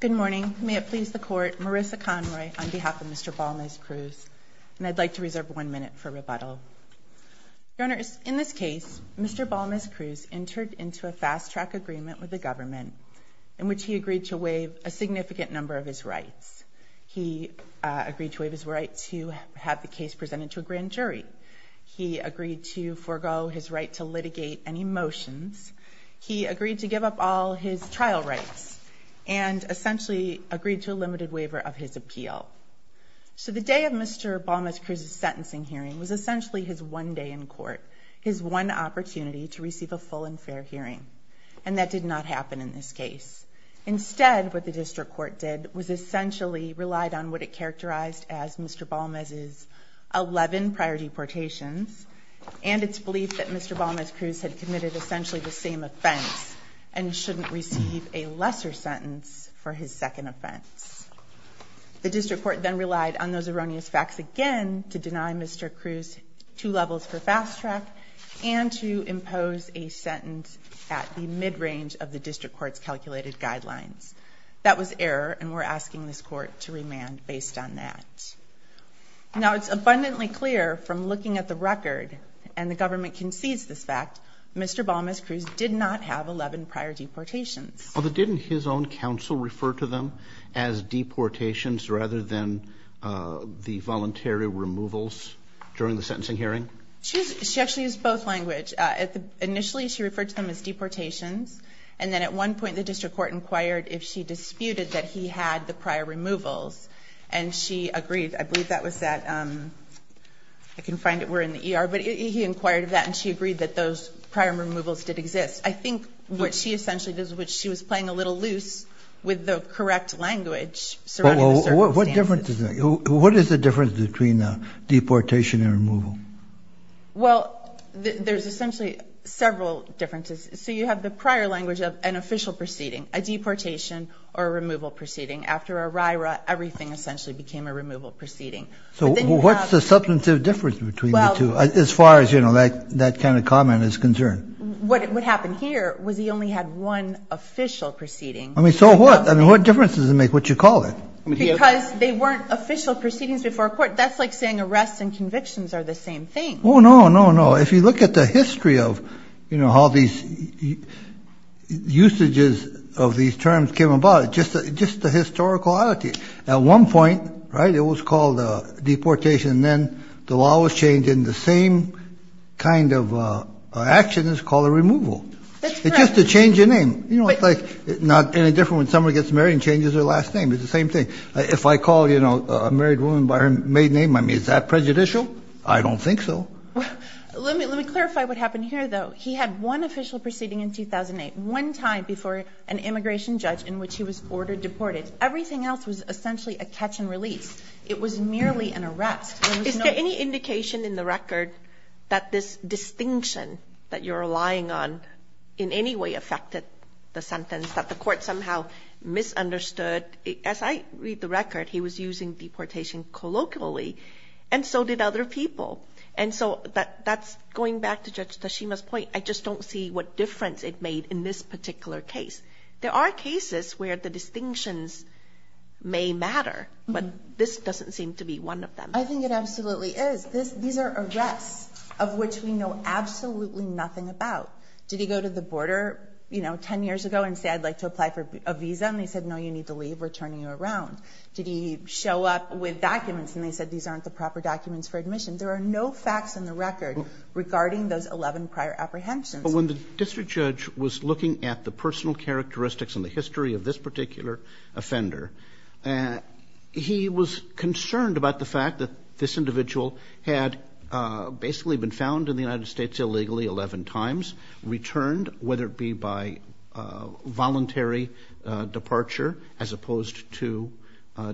Good morning. May it please the Court, Marissa Conroy on behalf of Mr. Balmes-Cruz. And I'd like to reserve one minute for rebuttal. Your Honors, in this case, Mr. Balmes-Cruz entered into a fast-track agreement with the government in which he agreed to waive a significant number of his rights. He agreed to waive his right to have the case presented to a grand jury. He agreed to forego his right to litigate any motions. He agreed to give up all his trial rights and essentially agreed to a limited waiver of his appeal. So the day of Mr. Balmes-Cruz's sentencing hearing was essentially his one day in court, his one opportunity to receive a full and fair hearing. And that did not happen in this case. Instead, what the District Court did was essentially relied on what it characterized as Mr. Balmes' eleven prior deportations and its belief that Mr. Balmes-Cruz had committed essentially the same offense and shouldn't receive a lesser sentence for his second offense. The District Court then relied on those erroneous facts again to deny Mr. Cruz two levels for fast-track and to impose a sentence at the mid-range of the District Court's calculated guidelines. That was error and we're asking this Court to remand based on that. Now it's abundantly clear from looking at the record, and the government concedes this fact, Mr. Balmes-Cruz did not have eleven prior deportations. Didn't his own counsel refer to them as deportations rather than the voluntary removals during the sentencing hearing? She actually used both languages. Initially she referred to them as deportations, and then at one point the District Court inquired if she disputed that he had the prior removals and she agreed, I believe that was at, I can find it, we're in the ER, but he inquired of that and she agreed that those prior removals did exist. I think what she essentially did was she was playing a little loose with the correct language surrounding the circumstances. What is the difference between deportation and removal? Well, there's essentially several differences. So you have the prior language of an official proceeding, a deportation or a removal proceeding. After ERIRA, everything essentially became a removal proceeding. So what's the substantive difference between the two as far as, you know, that kind of comment is concerned? What happened here was he only had one official proceeding. I mean, so what? I mean, what difference does it make what you call it? Because they weren't official proceedings before a court. That's like saying arrests and convictions are the same thing. Oh, no, no, no. If you look at the history of, you know, how these usages of these terms came about, just the historical oddity. At one point, right, it was called deportation and then the law was changed and the same kind of action is called a removal. It's just a change in name. You know, it's like not any different when someone gets married and changes their last name. It's the same thing. If I call, you know, a married woman by her maiden name, I mean, is that prejudicial? I don't think so. Let me clarify what happened here, though. He had one official proceeding in 2008, one time before an immigration judge in which he was ordered deported. Everything else was essentially a catch and release. It was merely an arrest. Is there any indication in the record that this distinction that you're relying on in any way affected the sentence, that the Court somehow misunderstood? As I read the record, he was using deportation colloquially and so did other people. And so that's going back to Judge Tashima's point. I just don't see what difference it made in this particular case. There are cases where the distinctions may matter, but this doesn't seem to be one of them. I think it absolutely is. These are arrests of which we know absolutely nothing about. Did he go to the border, you know, 10 years ago and say, I'd like to apply for a visa? And they said, no, you need to leave. We're turning you around. Did he show up with documents and they said, these aren't the proper documents for admission? There are no facts in the record regarding those 11 prior apprehensions. But when the district judge was looking at the personal characteristics and the history of this particular offender, he was concerned about the fact that this individual had basically been found in the United States illegally 11 times, returned, whether it be by voluntary departure as opposed to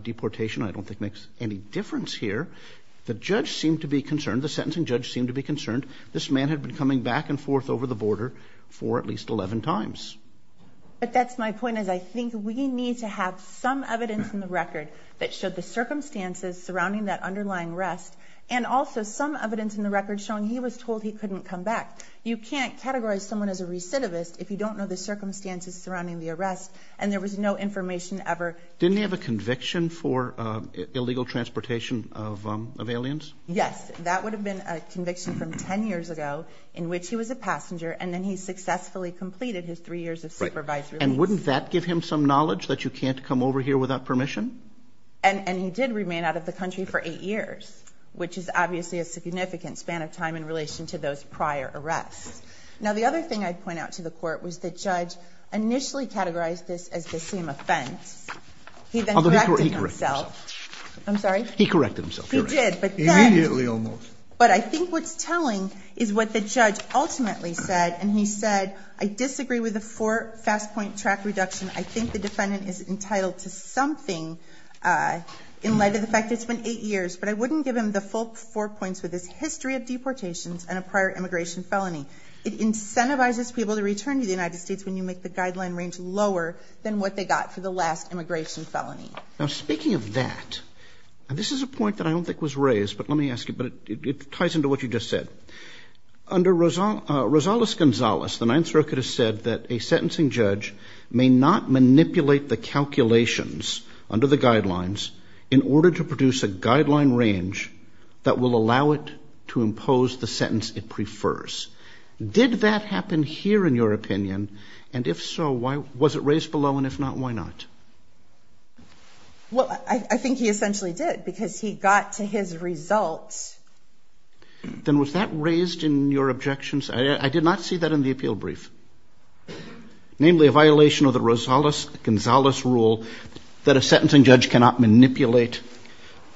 deportation, I don't think makes any difference here. The judge seemed to be concerned. The sentencing judge seemed to be concerned. This man had been coming back and forth over the border for at least 11 times. But that's my point, is I think we need to have some evidence in the record that showed the circumstances surrounding that underlying arrest and also some evidence in the record showing he was told he couldn't come back. You can't categorize someone as a recidivist if you don't know the circumstances surrounding the arrest and there was no information ever. Didn't he have a conviction for illegal transportation of aliens? Yes. That would have been a conviction from 10 years ago in which he was a passenger and then he successfully completed his three years of supervised release. Right. And wouldn't that give him some knowledge that you can't come over here without permission? And he did remain out of the country for eight years, which is obviously a significant span of time in relation to those prior arrests. Now, the other thing I'd point out to the Court was the judge initially categorized this as the same offense. He then corrected himself. Although he corrected himself. I'm sorry? He corrected himself. He did. Immediately almost. But I think what's telling is what the judge ultimately said, and he said, I disagree with the four fast point track reduction. I think the defendant is entitled to something in light of the fact that it's been eight years. But I wouldn't give him the full four points with his history of deportations and a prior immigration felony. It incentivizes people to return to the United States when you make the guideline range lower than what they got for the last immigration felony. Now, speaking of that, and this is a point that I don't think was raised, but let me ask you, but it ties into what you just said. Under Rosales-Gonzalez, the Ninth Circuit has said that a sentencing judge may not manipulate the calculations under the guidelines in order to produce a guideline range that will allow it to impose the sentence it prefers. Did that happen here, in your opinion? And if so, was it raised below? And if not, why not? Well, I think he essentially did because he got to his results. Then was that raised in your objections? I did not see that in the appeal brief. Namely, a violation of the Rosales-Gonzalez rule that a sentencing judge cannot manipulate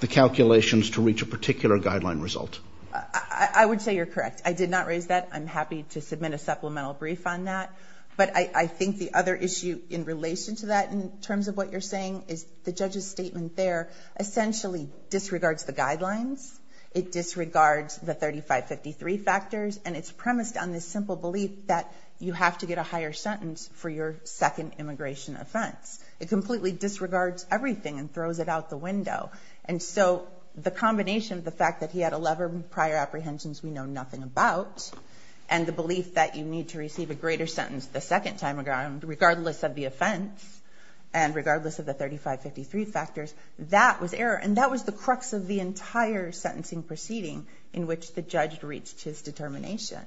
the calculations to reach a particular guideline result. I would say you're correct. I did not raise that. I'm happy to submit a supplemental brief on that. But I think the other issue in relation to that, in terms of what you're saying, is the judge's statement there essentially disregards the guidelines. It disregards the 3553 factors, and it's premised on this simple belief that you have to get a higher sentence for your second immigration offense. It completely disregards everything and throws it out the window. And so the combination of the fact that he had 11 prior apprehensions we know nothing about and the belief that you need to receive a greater sentence the second time around, regardless of the offense and regardless of the 3553 factors, that was error. And that was the crux of the entire sentencing proceeding in which the judge reached his determination.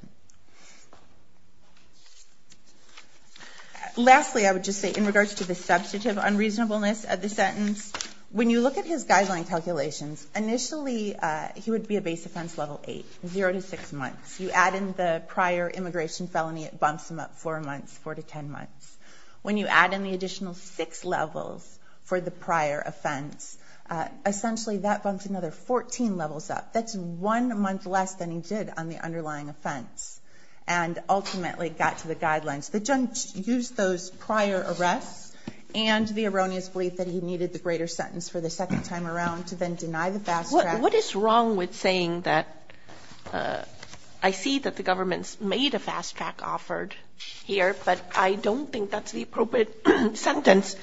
Lastly, I would just say in regards to the substantive unreasonableness of the sentence, when you look at his guideline calculations, initially he would be a base offense level 8, 0 to 6 months. You add in the prior immigration felony, it bumps him up 4 months, 4 to 10 months. When you add in the additional 6 levels for the prior offense, essentially that bumps another 14 levels up. That's one month less than he did on the underlying offense and ultimately got to the guidelines. The judge used those prior arrests and the erroneous belief that he needed the greater sentence for the second time around to then deny the fast track. And what is wrong with saying that I see that the government's made a fast track offered here, but I don't think that's the appropriate sentence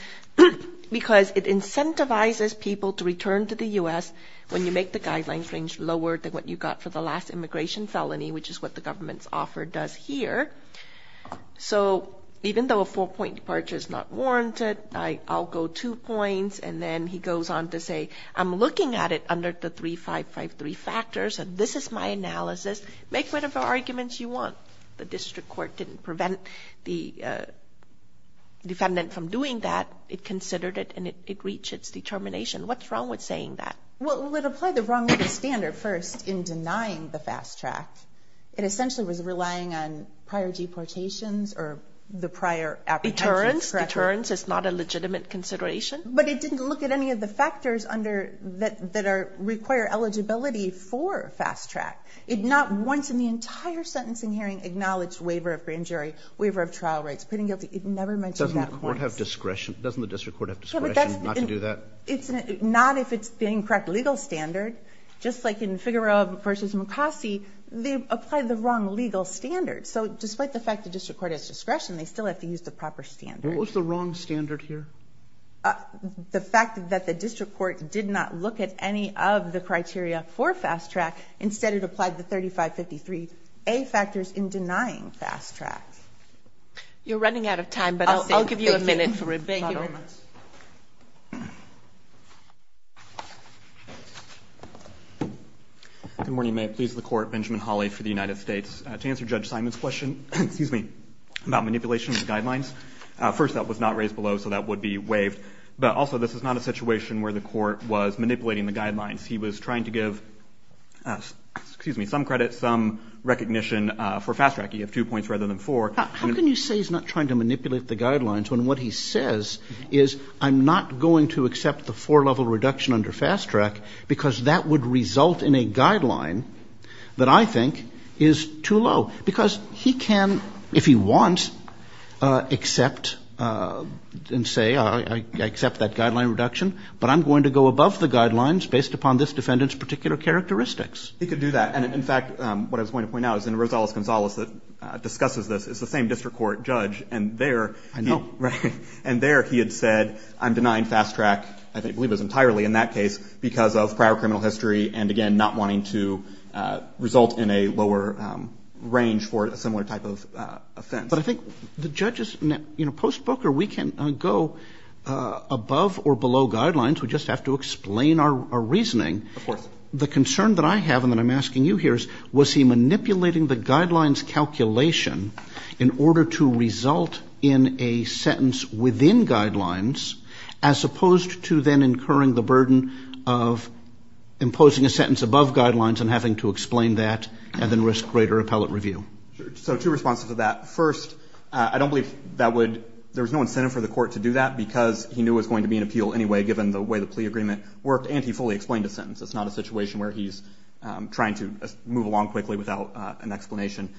because it incentivizes people to return to the U.S. when you make the guidelines range lower than what you got for the last immigration felony, which is what the government's offer does here. So even though a four-point departure is not warranted, I'll go two points, and then he goes on to say, I'm looking at it under the 3553 factors and this is my analysis. Make whatever arguments you want. The district court didn't prevent the defendant from doing that. It considered it and it reached its determination. What's wrong with saying that? Well, it would apply the wrong way to standard first in denying the fast track. It essentially was relying on prior deportations or the prior apprehensions. Deterrence. Deterrence is not a legitimate consideration. But it didn't look at any of the factors under that require eligibility for fast track. It not once in the entire sentencing hearing acknowledged waiver of grand jury, waiver of trial rights, pitting guilty. It never mentioned that once. Doesn't the court have discretion? Doesn't the district court have discretion not to do that? Not if it's the incorrect legal standard. Just like in Figueroa v. McCossie, they applied the wrong legal standard. So despite the fact the district court has discretion, they still have to use the proper standard. What was the wrong standard here? The fact that the district court did not look at any of the criteria for fast track. Instead, it applied the 3553A factors in denying fast track. You're running out of time, but I'll give you a minute. Thank you. Good morning. May it please the Court. Benjamin Hawley for the United States. To answer Judge Simon's question, excuse me, about manipulation of the guidelines, first, that was not raised below, so that would be waived. But also, this is not a situation where the court was manipulating the guidelines. He was trying to give some credit, some recognition for fast track. You have two points rather than four. How can you say he's not trying to manipulate the guidelines when what he says is, I'm not going to accept the four-level reduction under fast track because that would result in a guideline that I think is too low? Because he can, if he wants, accept and say, I accept that guideline reduction, but I'm going to go above the guidelines based upon this defendant's particular characteristics. He could do that. And, in fact, what I was going to point out is in Rosales-Gonzalez that discusses this, it's the same district court judge. And there he had said, I'm denying fast track, I believe it was entirely in that case, because of prior criminal history and, again, not wanting to result in a lower range for a similar type of offense. But I think the judges, you know, post-Booker, we can go above or below guidelines. We just have to explain our reasoning. Of course. The concern that I have and that I'm asking you here is, was he manipulating the guidelines calculation in order to result in a sentence within guidelines, as opposed to then incurring the burden of imposing a sentence above guidelines and having to explain that and then risk greater appellate review? Sure. So two responses to that. First, I don't believe that would, there was no incentive for the court to do that because he knew it was going to be an appeal anyway, given the way the plea agreement worked, and he fully explained a sentence. It's not a situation where he's trying to move along quickly without an explanation.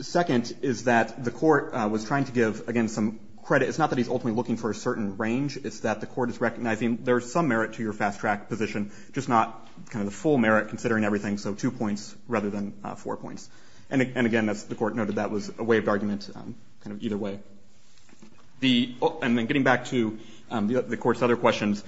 Second is that the court was trying to give, again, some credit. It's not that he's ultimately looking for a certain range. It's that the court is recognizing there is some merit to your fast-track position, just not kind of the full merit, considering everything, so two points rather than four points. And again, as the court noted, that was a waived argument, kind of either way. And then getting back to the court's other questions,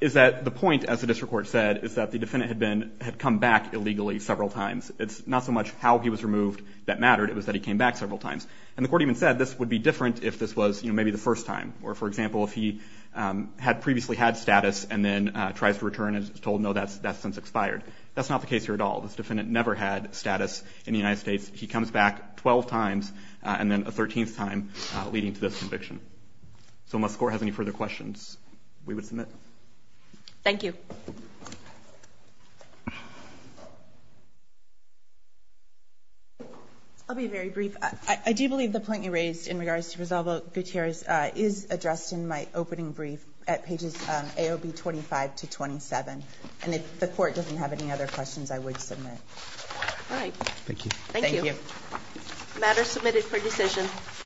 is that the point, as the district court said, is that the defendant had been, had come back illegally several times. It's not so much how he was removed that mattered. It was that he came back several times. And the court even said this would be different if this was, you know, maybe the first time, or, for example, if he had previously had status and then tries to return and is told, no, that's since expired. That's not the case here at all. This defendant never had status in the United States. He comes back 12 times and then a 13th time leading to this conviction. So unless the court has any further questions, we would submit. Thank you. I'll be very brief. I do believe the point you raised in regards to Rosalba Gutierrez is addressed in my opening brief at pages AOB 25 to 27. And if the court doesn't have any other questions, I would submit. All right. Thank you. Thank you. Thank you. The matter is submitted for decision.